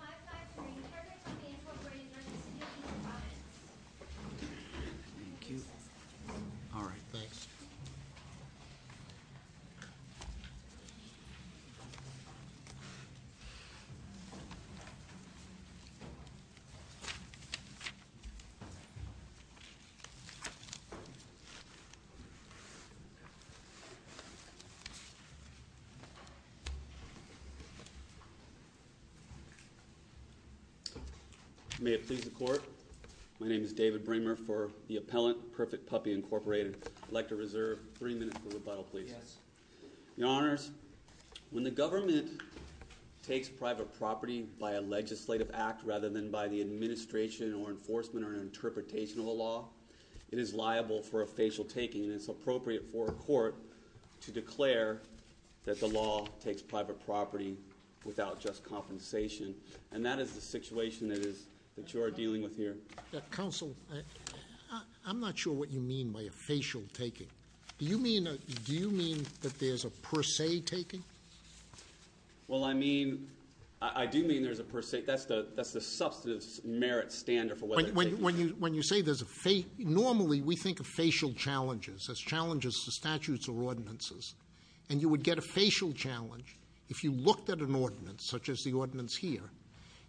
5-5-3. Perfectly incorporated by the City of East Providence. Thank you. Alright, thanks. May it please the Court. My name is David Bramer for the appellant, Perfect Puppy, Inc. I'd like to reserve three minutes for rebuttal, please. Yes. Your Honors, when the government takes private property by a legislative act rather than by the administration or enforcement or interpretation of a law, it is liable for a facial taking, and it's appropriate for a court to declare that the law takes private property without just compensation, and that is the situation that you are dealing with here. Counsel, I'm not sure what you mean by a facial taking. Do you mean that there's a per se taking? Well, I mean, I do mean there's a per se. That's the substantive merit standard for what they're taking. When you say there's a facial, normally we think of facial challenges as challenges to statutes or ordinances, and you would get a facial challenge if you looked at an ordinance, such as the ordinance here,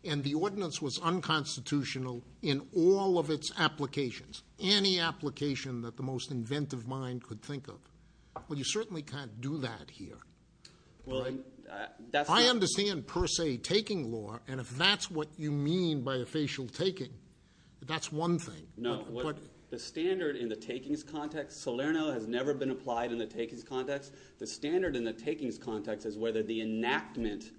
and the ordinance was unconstitutional in all of its applications, any application that the most inventive mind could think of. Well, you certainly can't do that here. I understand per se taking law, and if that's what you mean by a facial taking, that's one thing. No. The standard in the takings context, Salerno has never been applied in the takings context. The standard in the takings context is whether the enactment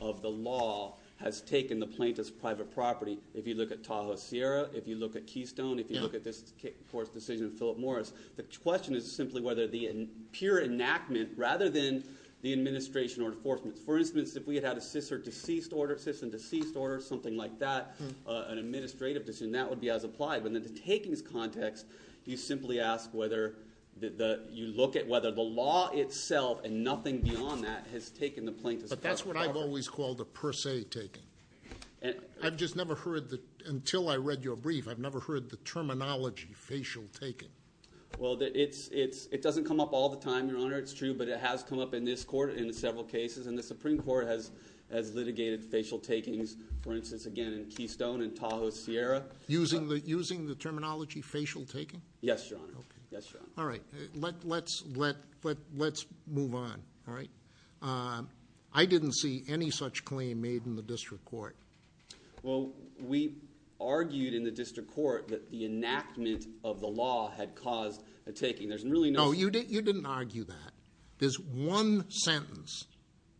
of the law has taken the plaintiff's private property. If you look at Tahoe Sierra, if you look at Keystone, if you look at this court's decision in Philip Morris, the question is simply whether the pure enactment, rather than the administration or enforcement. For instance, if we had had a cis or deceased order, cis and deceased order, something like that, an administrative decision, that would be as applied, but in the takings context, you simply ask whether you look at whether the law itself and nothing beyond that has taken the plaintiff's private property. But that's what I've always called a per se taking. I've just never heard the – until I read your brief, I've never heard the terminology facial taking. Well, it doesn't come up all the time, Your Honor, it's true, but it has come up in this court in several cases, and the Supreme Court has litigated facial takings, for instance, again, in Keystone and Tahoe Sierra. Using the terminology facial taking? Yes, Your Honor. Okay. Yes, Your Honor. All right. Let's move on, all right? I didn't see any such claim made in the district court. Well, we argued in the district court that the enactment of the law had caused a taking. There's really no – No, you didn't argue that. There's one sentence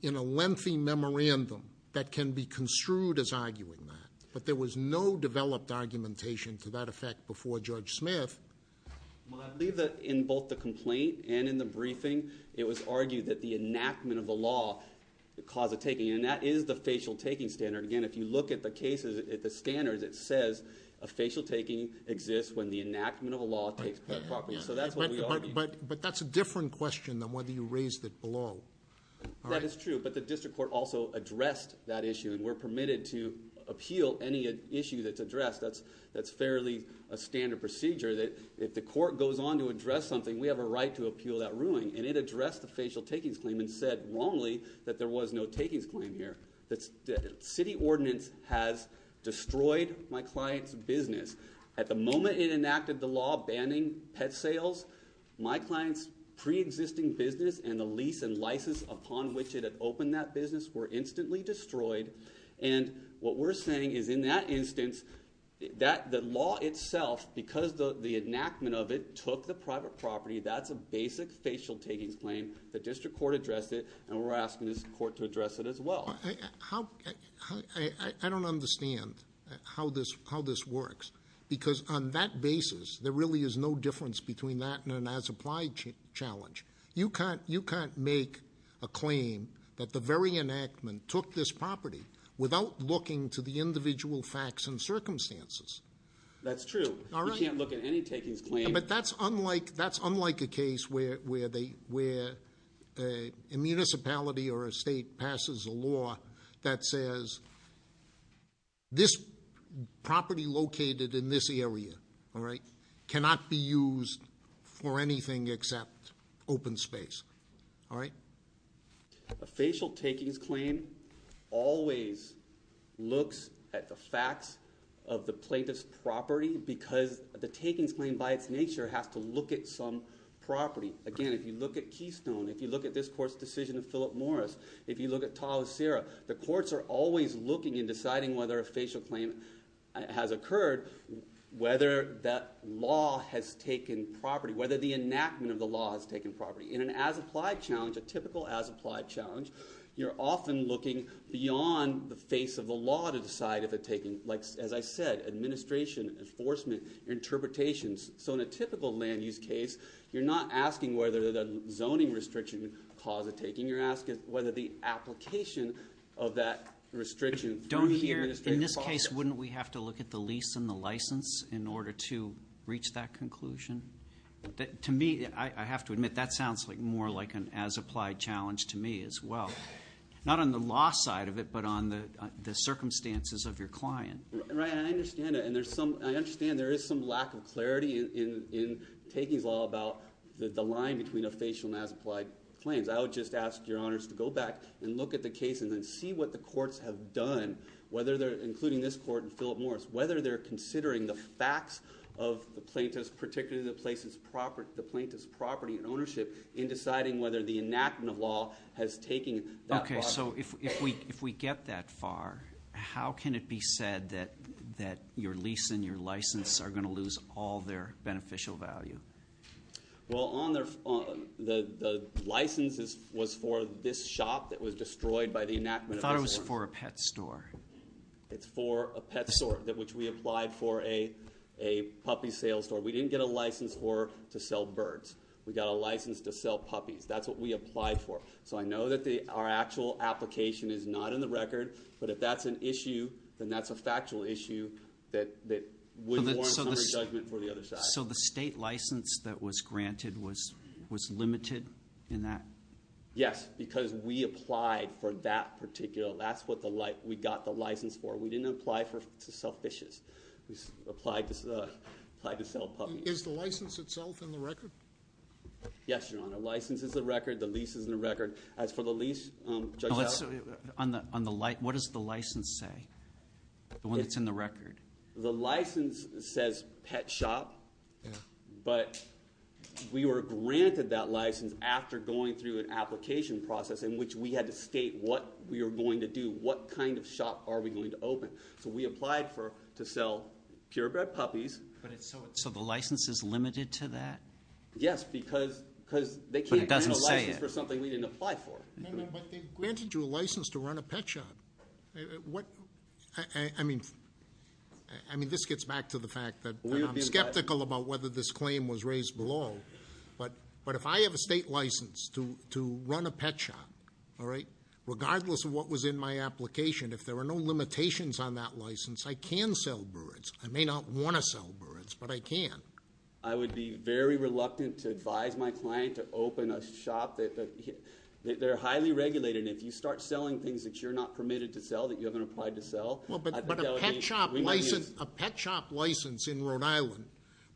in a lengthy memorandum that can be construed as arguing that, but there was no developed argumentation to that effect before Judge Smith. Well, I believe that in both the complaint and in the briefing, it was argued that the enactment of the law caused a taking, and that is the facial taking standard. Again, if you look at the cases, at the standards, it says a facial taking exists when the enactment of a law takes private property. So that's what we argued. But that's a different question than whether you raised it below. That is true, but the district court also addressed that issue, and we're permitted to appeal any issue that's addressed. That's fairly a standard procedure that if the court goes on to address something, we have a right to appeal that ruling, and it addressed the facial takings claim and said wrongly that there was no takings claim here. The city ordinance has destroyed my client's business. At the moment it enacted the law banning pet sales, my client's preexisting business and the lease and license upon which it had opened that business were instantly destroyed, and what we're saying is in that instance, the law itself, because the enactment of it took the private property, that's a basic facial takings claim. The district court addressed it, and we're asking this court to address it as well. I don't understand how this works, because on that basis there really is no difference between that and an as applied challenge. You can't make a claim that the very enactment took this property without looking to the individual facts and circumstances. That's true. You can't look at any takings claim. But that's unlike a case where a municipality or a state passes a law that says this property located in this area cannot be used for anything except open space. A facial takings claim always looks at the facts of the plaintiff's property because the takings claim by its nature has to look at some property. Again, if you look at Keystone, if you look at this court's decision of Philip Morris, if you look at Ta-Osirah, the courts are always looking and deciding whether a facial claim has occurred, whether that law has taken property, whether the enactment of the law has taken property. In an as applied challenge, a typical as applied challenge, you're often looking beyond the face of the law to decide if it's taken. As I said, administration, enforcement, interpretations. So in a typical land use case, you're not asking whether the zoning restriction caused the taking. You're asking whether the application of that restriction through the administrative process. In this case, wouldn't we have to look at the lease and the license in order to reach that conclusion? To me, I have to admit, that sounds more like an as applied challenge to me as well. Not on the law side of it, but on the circumstances of your client. Right, and I understand that. And I understand there is some lack of clarity in takings law about the line between a facial and as applied claims. I would just ask your honors to go back and look at the case and then see what the courts have done, including this court and Philip Morris, whether they're considering the facts of the plaintiffs, particularly the plaintiff's property and ownership, in deciding whether the enactment of law has taken that law. Okay, so if we get that far, how can it be said that your lease and your license are going to lose all their beneficial value? Well, the license was for this shop that was destroyed by the enactment of this law. I thought it was for a pet store. It's for a pet store, which we applied for a puppy sales store. We didn't get a license for to sell birds. We got a license to sell puppies. That's what we applied for. So I know that our actual application is not in the record, but if that's an issue, then that's a factual issue that wouldn't warrant summary judgment for the other side. So the state license that was granted was limited in that? Yes, because we applied for that particular. That's what we got the license for. We didn't apply to sell fishes. We applied to sell puppies. Is the license itself in the record? Yes, Your Honor. The license is in the record. The lease is in the record. As for the lease, Judge Allen. What does the license say, the one that's in the record? The license says pet shop, but we were granted that license after going through an application process in which we had to state what we were going to do, what kind of shop are we going to open. So we applied to sell purebred puppies. So the license is limited to that? Yes, because they can't grant a license for something we didn't apply for. But they granted you a license to run a pet shop. I mean, this gets back to the fact that I'm skeptical about whether this claim was raised below, but if I have a state license to run a pet shop, regardless of what was in my application, if there are no limitations on that license, I can sell birds. I may not want to sell birds, but I can. I would be very reluctant to advise my client to open a shop. They're highly regulated, and if you start selling things that you're not permitted to sell, that you haven't applied to sell- But a pet shop license in Rhode Island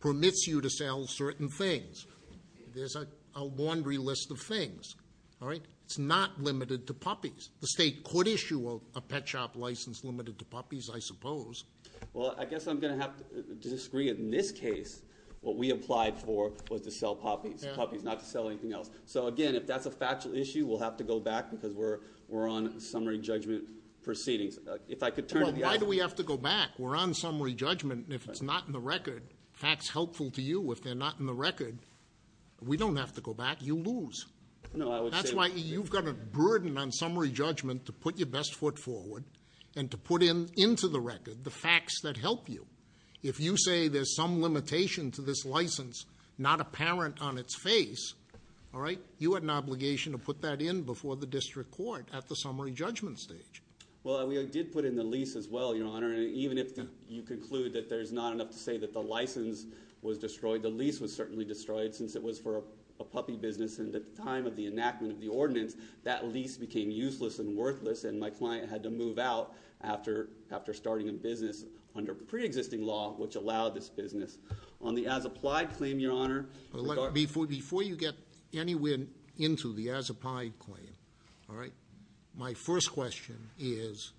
permits you to sell certain things. There's a laundry list of things, all right? It's not limited to puppies. The state could issue a pet shop license limited to puppies, I suppose. Well, I guess I'm going to have to disagree. In this case, what we applied for was to sell puppies, not to sell anything else. So, again, if that's a factual issue, we'll have to go back because we're on summary judgment proceedings. If I could turn to the- Well, why do we have to go back? We're on summary judgment, and if it's not in the record, facts helpful to you. If they're not in the record, we don't have to go back. You lose. No, I would say- That's why you've got a burden on summary judgment to put your best foot forward and to put into the record the facts that help you. If you say there's some limitation to this license not apparent on its face, all right, you had an obligation to put that in before the district court at the summary judgment stage. Well, we did put in the lease as well, Your Honor, and even if you conclude that there's not enough to say that the license was destroyed, the lease was certainly destroyed since it was for a puppy business, and at the time of the enactment of the ordinance, that lease became useless and worthless, and my client had to move out after starting a business under preexisting law which allowed this business. On the as-applied claim, Your Honor- Before you get anywhere into the as-applied claim, all right, my first question is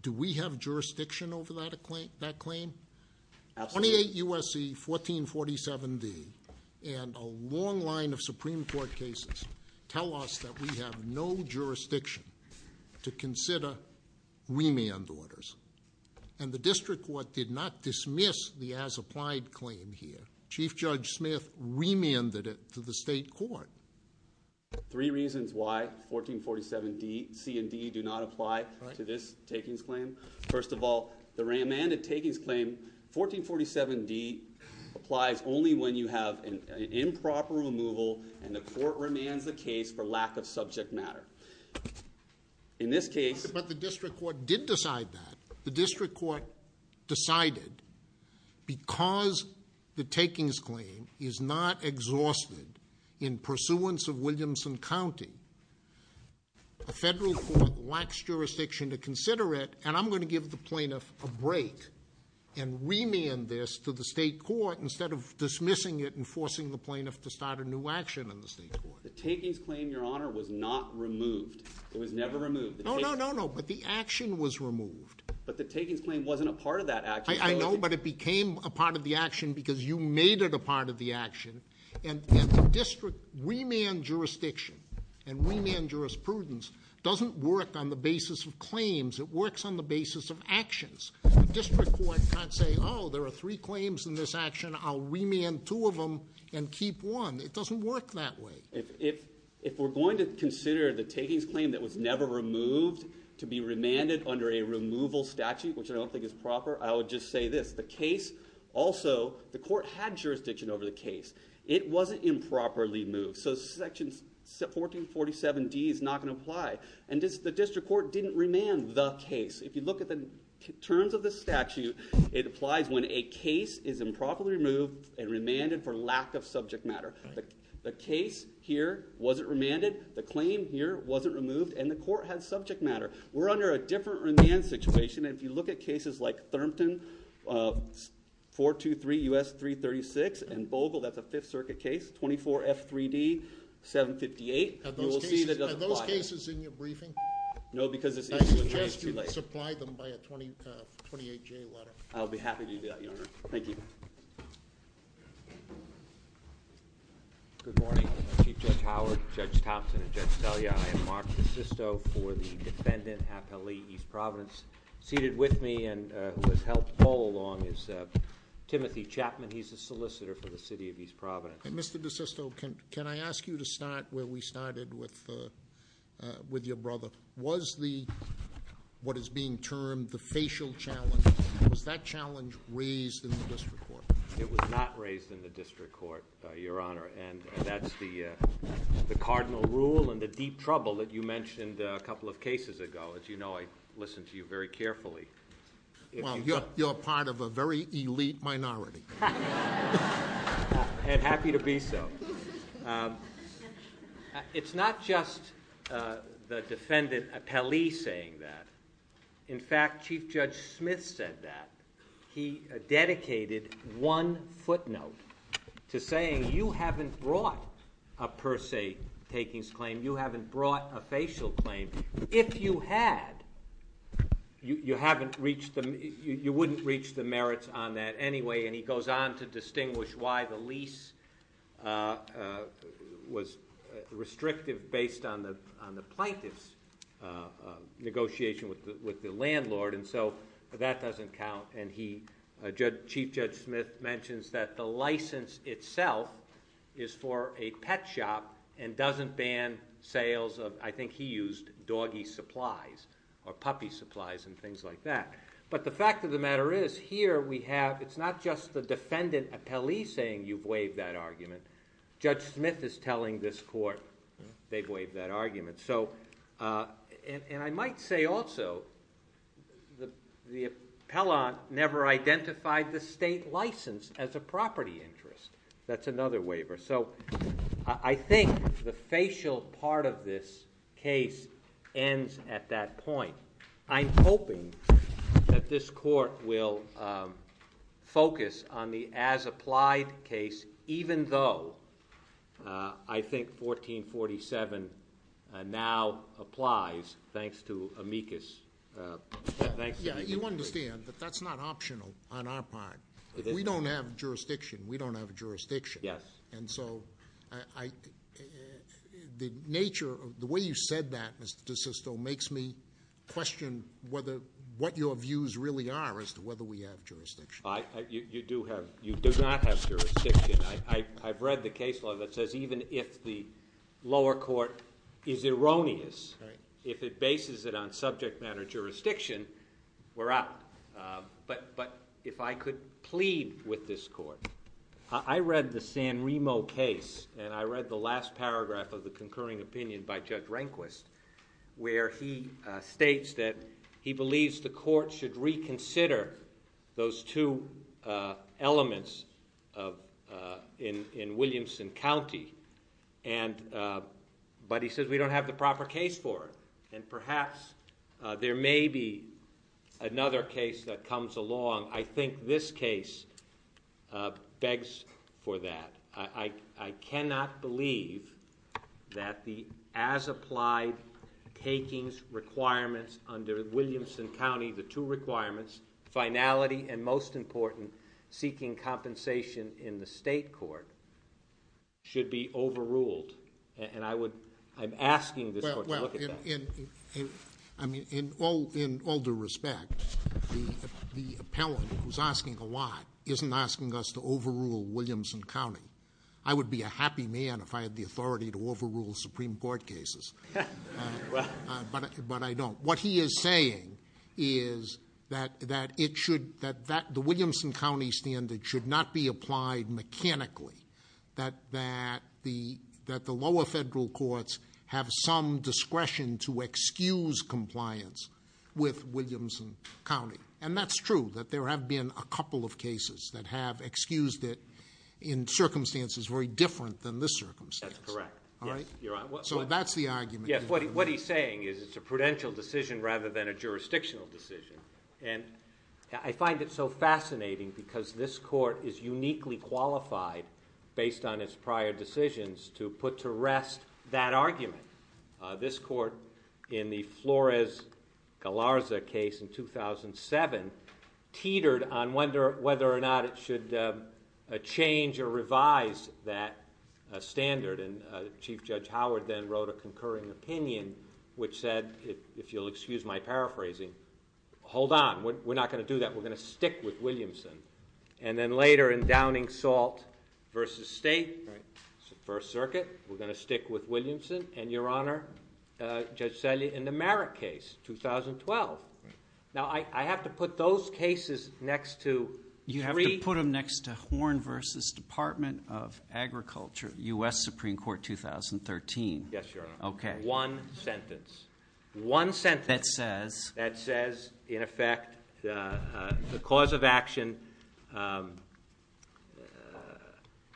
do we have jurisdiction over that claim? Absolutely. Twenty-eight U.S.C. 1447D and a long line of Supreme Court cases tell us that we have no jurisdiction to consider remand orders, and the district court did not dismiss the as-applied claim here. Chief Judge Smith remanded it to the state court. Three reasons why 1447C and D do not apply to this takings claim. First of all, the remanded takings claim, 1447D, applies only when you have an improper removal and the court remands the case for lack of subject matter. In this case- But the district court did decide that. The district court decided because the takings claim is not exhausted in pursuance of Williamson County, a federal court lacks jurisdiction to consider it, and I'm going to give the plaintiff a break and remand this to the state court instead of dismissing it and forcing the plaintiff to start a new action in the state court. The takings claim, Your Honor, was not removed. It was never removed. No, no, no, no, but the action was removed. But the takings claim wasn't a part of that action. I know, but it became a part of the action because you made it a part of the action, and the district remand jurisdiction and remand jurisprudence doesn't work on the basis of claims. It works on the basis of actions. The district court can't say, oh, there are three claims in this action. I'll remand two of them and keep one. It doesn't work that way. If we're going to consider the takings claim that was never removed to be remanded under a removal statute, which I don't think is proper, I would just say this. Also, the court had jurisdiction over the case. It wasn't improperly moved, so Section 1447D is not going to apply. And the district court didn't remand the case. If you look at the terms of the statute, it applies when a case is improperly removed and remanded for lack of subject matter. The case here wasn't remanded. The claim here wasn't removed, and the court had subject matter. We're under a different remand situation. If you look at cases like Thurmton, 423 U.S. 336, and Bogle, that's a Fifth Circuit case, 24F3D 758. You will see that it doesn't apply. Are those cases in your briefing? No, because it's in your briefing. I suggest you supply them by a 28-J letter. I'll be happy to do that, Your Honor. Thank you. Good morning. Chief Judge Howard, Judge Thompson, and Judge Scalia, I am Mark DeSisto for the defendant, half-L.E., East Providence. Seated with me and who has helped all along is Timothy Chapman. He's a solicitor for the city of East Providence. And, Mr. DeSisto, can I ask you to start where we started with your brother? Was the, what is being termed, the facial challenge, was that challenge raised in the district court? It was not raised in the district court, Your Honor, and that's the cardinal rule and the deep trouble that you mentioned a couple of cases ago. As you know, I listen to you very carefully. Well, you're part of a very elite minority. And happy to be so. It's not just the defendant, half-L.E., saying that. In fact, Chief Judge Smith said that. He dedicated one footnote to saying you haven't brought a per se takings claim. You haven't brought a facial claim. If you had, you wouldn't reach the merits on that anyway. And he goes on to distinguish why the lease was restrictive based on the plaintiff's negotiation with the landlord. And so that doesn't count. And he, Chief Judge Smith, mentions that the license itself is for a pet shop and doesn't ban sales of, I think he used, doggy supplies or puppy supplies and things like that. But the fact of the matter is, here we have, it's not just the defendant, half-L.E., saying you've waived that argument. Judge Smith is telling this court they've waived that argument. And I might say also the appellant never identified the state license as a property interest. That's another waiver. So I think the facial part of this case ends at that point. I'm hoping that this court will focus on the as-applied case, even though I think 1447 now applies, thanks to amicus. Yeah, you understand that that's not optional on our part. We don't have jurisdiction. We don't have jurisdiction. Yes. And so the nature, the way you said that, Mr. DeSisto, makes me question what your views really are as to whether we have jurisdiction. You do have, you do not have jurisdiction. I've read the case law that says even if the lower court is erroneous, if it bases it on subject matter jurisdiction, we're out. But if I could plead with this court, I read the San Remo case, and I read the last paragraph of the concurring opinion by Judge Rehnquist, where he states that he believes the court should reconsider those two elements in Williamson County. But he says we don't have the proper case for it. And perhaps there may be another case that comes along. I think this case begs for that. I cannot believe that the as-applied takings requirements under Williamson County, the two requirements, finality and, most important, seeking compensation in the state court, should be overruled. And I would, I'm asking this court to look at that. I mean, in all due respect, the appellant who's asking a lot isn't asking us to overrule Williamson County. I would be a happy man if I had the authority to overrule Supreme Court cases. But I don't. What he is saying is that the Williamson County standard should not be applied mechanically. That the lower federal courts have some discretion to excuse compliance with Williamson County. And that's true, that there have been a couple of cases that have excused it in circumstances very different than this circumstance. That's correct. So that's the argument. What he's saying is it's a prudential decision rather than a jurisdictional decision. And I find it so fascinating because this court is uniquely qualified, based on its prior decisions, to put to rest that argument. This court, in the Flores-Galarza case in 2007, teetered on whether or not it should change or revise that standard. And Chief Judge Howard then wrote a concurring opinion, which said, if you'll excuse my paraphrasing, hold on. We're not going to do that. We're going to stick with Williamson. And then later, in Downing Salt v. State, First Circuit, we're going to stick with Williamson. And, Your Honor, Judge Selle in the Merritt case, 2012. Now, I have to put those cases next to three. He put them next to Horn v. Department of Agriculture, U.S. Supreme Court, 2013. Yes, Your Honor. Okay. One sentence. One sentence. That says? That says, in effect, the cause of action,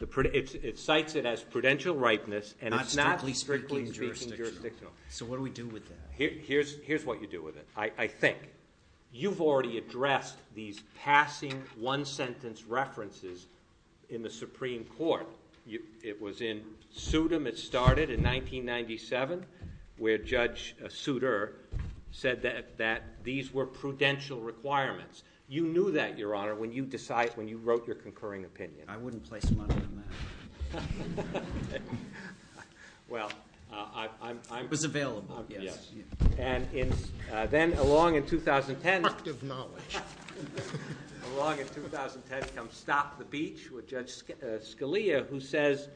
it cites it as prudential ripeness and it's not strictly speaking jurisdictional. So what do we do with that? Here's what you do with it. I think. You've already addressed these passing one-sentence references in the Supreme Court. It was in Sudam, it started in 1997, where Judge Suder said that these were prudential requirements. You knew that, Your Honor, when you wrote your concurring opinion. I wouldn't place money on that. Well, I'm – It was available. Yes. And then along in 2010 – Productive knowledge. Along in 2010 comes Stop the Beach with Judge Scalia, who says,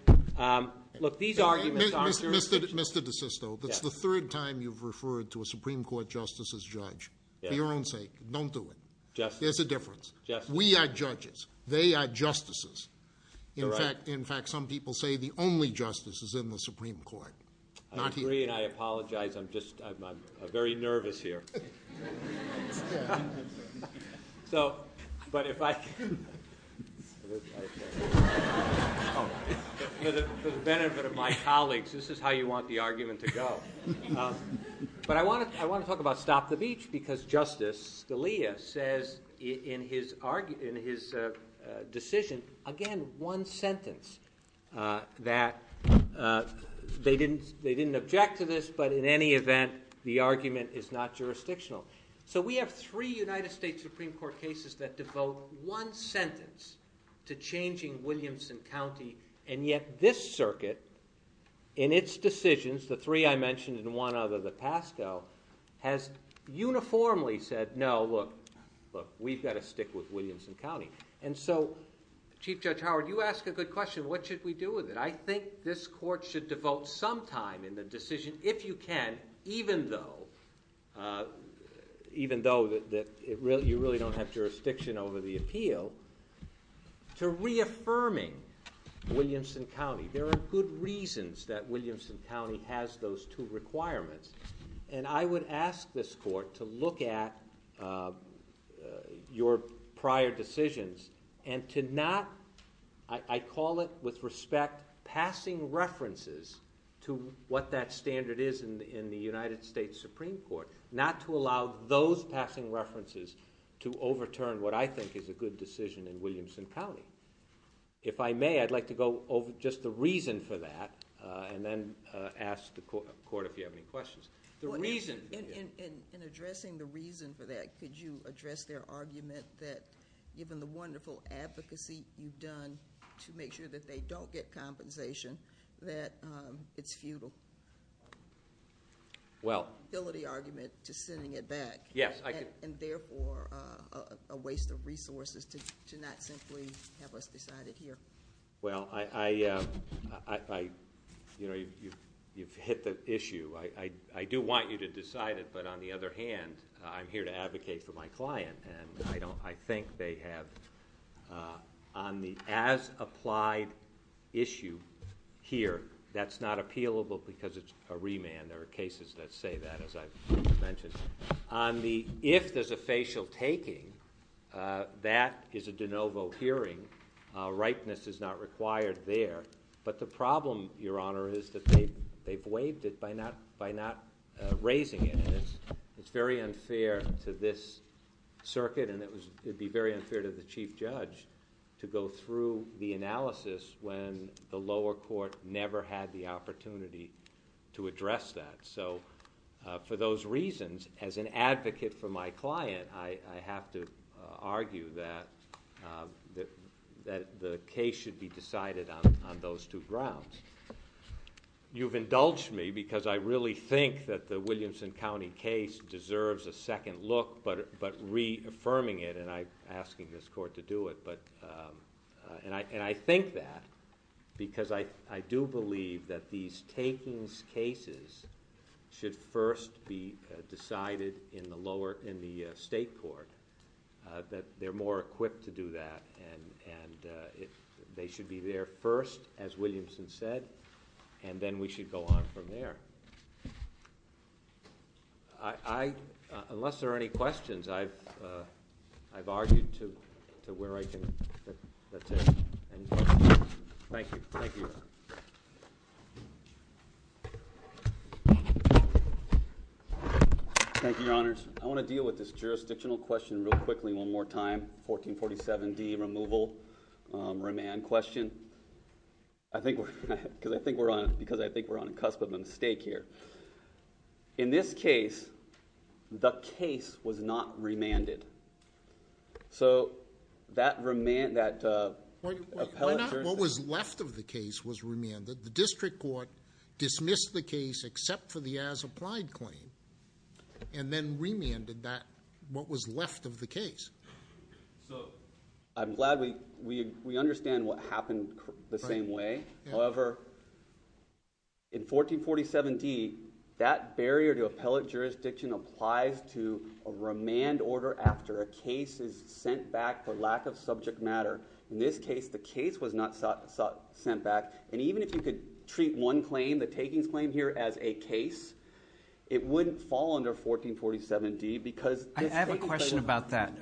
look, these arguments aren't jurisdictional. Mr. DeSisto, that's the third time you've referred to a Supreme Court justice as judge. Yes. For your own sake, don't do it. Justice. There's a difference. Justice. We are judges. They are justices. They're right. In fact, some people say the only justice is in the Supreme Court, not here. I agree, and I apologize. I'm just – I'm very nervous here. So – but if I can – For the benefit of my colleagues, this is how you want the argument to go. But I want to talk about Stop the Beach because Justice Scalia says in his decision, again, one sentence that they didn't object to this, but in any event, the argument is not jurisdictional. So we have three United States Supreme Court cases that devote one sentence to changing Williamson County, and yet this circuit, in its decisions, the three I mentioned and one other, the PASCO, has uniformly said, no, look, look, we've got to stick with Williamson County. And so, Chief Judge Howard, you ask a good question. What should we do with it? I think this court should devote some time in the decision, if you can, even though you really don't have jurisdiction over the appeal, to reaffirming Williamson County. There are good reasons that Williamson County has those two requirements, and I would ask this court to look at your prior decisions and to not – I call it, with respect, passing references to what that standard is in the United States Supreme Court, not to allow those passing references to overturn what I think is a good decision in Williamson County. If I may, I'd like to go over just the reason for that and then ask the court if you have any questions. The reason – In addressing the reason for that, could you address their argument that, given the wonderful advocacy you've done to make sure that they don't get compensation, that it's futile? Well – A waste of resources to not simply have us decide it here. Well, I – you know, you've hit the issue. I do want you to decide it, but on the other hand, I'm here to advocate for my client, and I think they have – on the as-applied issue here, that's not appealable because it's a remand. There are cases that say that, as I've mentioned. If there's a facial taking, that is a de novo hearing. Ripeness is not required there. But the problem, Your Honor, is that they've waived it by not raising it, and it's very unfair to this circuit, and it would be very unfair to the chief judge, to go through the analysis when the lower court never had the opportunity to address that. So for those reasons, as an advocate for my client, I have to argue that the case should be decided on those two grounds. You've indulged me because I really think that the Williamson County case deserves a second look, but reaffirming it, and I'm asking this court to do it, and I think that because I do believe that these takings cases should first be decided in the state court, that they're more equipped to do that, and they should be there first, as Williamson said, and then we should go on from there. Unless there are any questions, I've argued to where I can take any questions. Thank you. Thank you, Your Honor. Thank you, Your Honors. I want to deal with this jurisdictional question real quickly one more time, the 1447D removal remand question. Because I think we're on a cusp of a mistake here. In this case, the case was not remanded. What was left of the case was remanded. The district court dismissed the case except for the as-applied claim, and then remanded what was left of the case. So I'm glad we understand what happened the same way. However, in 1447D, that barrier to appellate jurisdiction applies to a remand order after a case is sent back for lack of subject matter. In this case, the case was not sent back, and even if you could treat one claim, the takings claim here, as a case, it wouldn't fall under 1447D because I have a question about that.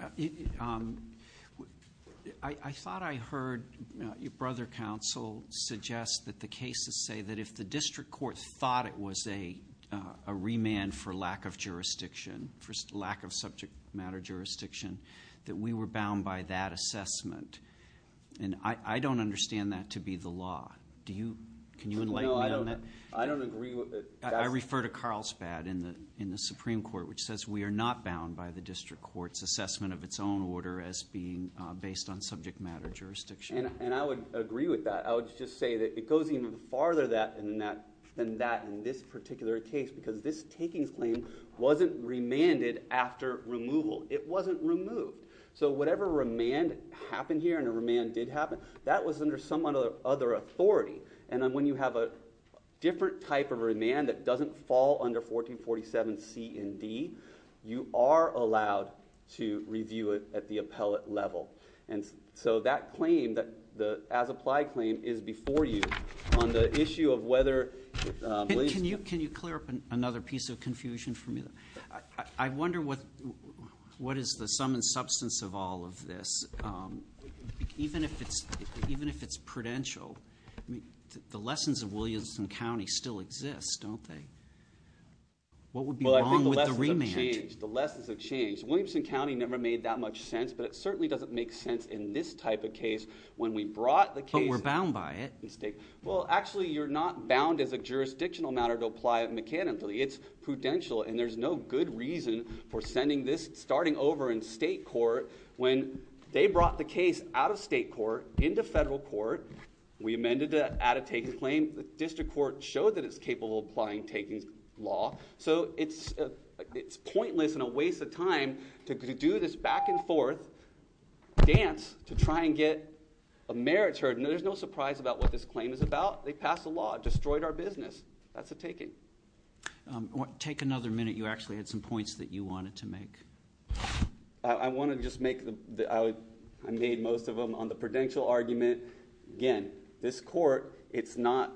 I thought I heard your brother counsel suggest that the cases say that if the district court thought it was a remand for lack of jurisdiction, for lack of subject matter jurisdiction, that we were bound by that assessment. And I don't understand that to be the law. Can you enlighten me on that? No, I don't agree with it. I refer to Carlsbad in the Supreme Court, which says we are not bound by the district court's assessment of its own order as being based on subject matter jurisdiction. And I would agree with that. I would just say that it goes even farther than that in this particular case because this takings claim wasn't remanded after removal. It wasn't removed. So whatever remand happened here, and a remand did happen, that was under some other authority. And then when you have a different type of remand that doesn't fall under 1447C and D, you are allowed to review it at the appellate level. And so that claim, the as-applied claim, is before you on the issue of whether it was. Can you clear up another piece of confusion for me? I wonder what is the sum and substance of all of this, even if it's prudential. The lessons of Williamson County still exist, don't they? What would be wrong with the remand? Well, I think the lessons have changed. The lessons have changed. Williamson County never made that much sense, but it certainly doesn't make sense in this type of case when we brought the case. But we're bound by it. Well, actually, you're not bound as a jurisdictional matter to apply it mechanically. It's prudential, and there's no good reason for sending this starting over in state court when they brought the case out of state court into federal court. We amended that out-of-takings claim. The district court showed that it's capable of applying takings law. So it's pointless and a waste of time to do this back-and-forth dance to try and get a merits heard. And there's no surprise about what this claim is about. They passed a law. It destroyed our business. That's a taking. Take another minute. You actually had some points that you wanted to make. I want to just make the—I made most of them on the prudential argument. Again, this court, it's not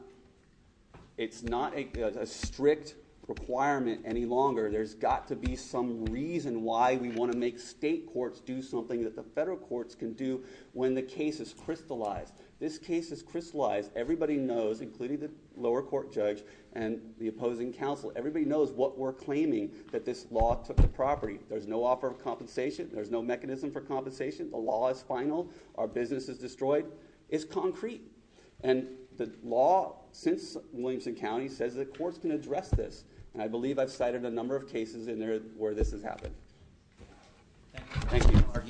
a strict requirement any longer. There's got to be some reason why we want to make state courts do something that the federal courts can do when the case is crystallized. This case is crystallized. Everybody knows, including the lower court judge and the opposing counsel, everybody knows what we're claiming, that this law took the property. There's no offer of compensation. There's no mechanism for compensation. The law is final. Our business is destroyed. It's concrete. And the law, since Williamson County, says the courts can address this. And I believe I've cited a number of cases in there where this has happened. Thank you. Thank you. All rise. The vote gets three pieces.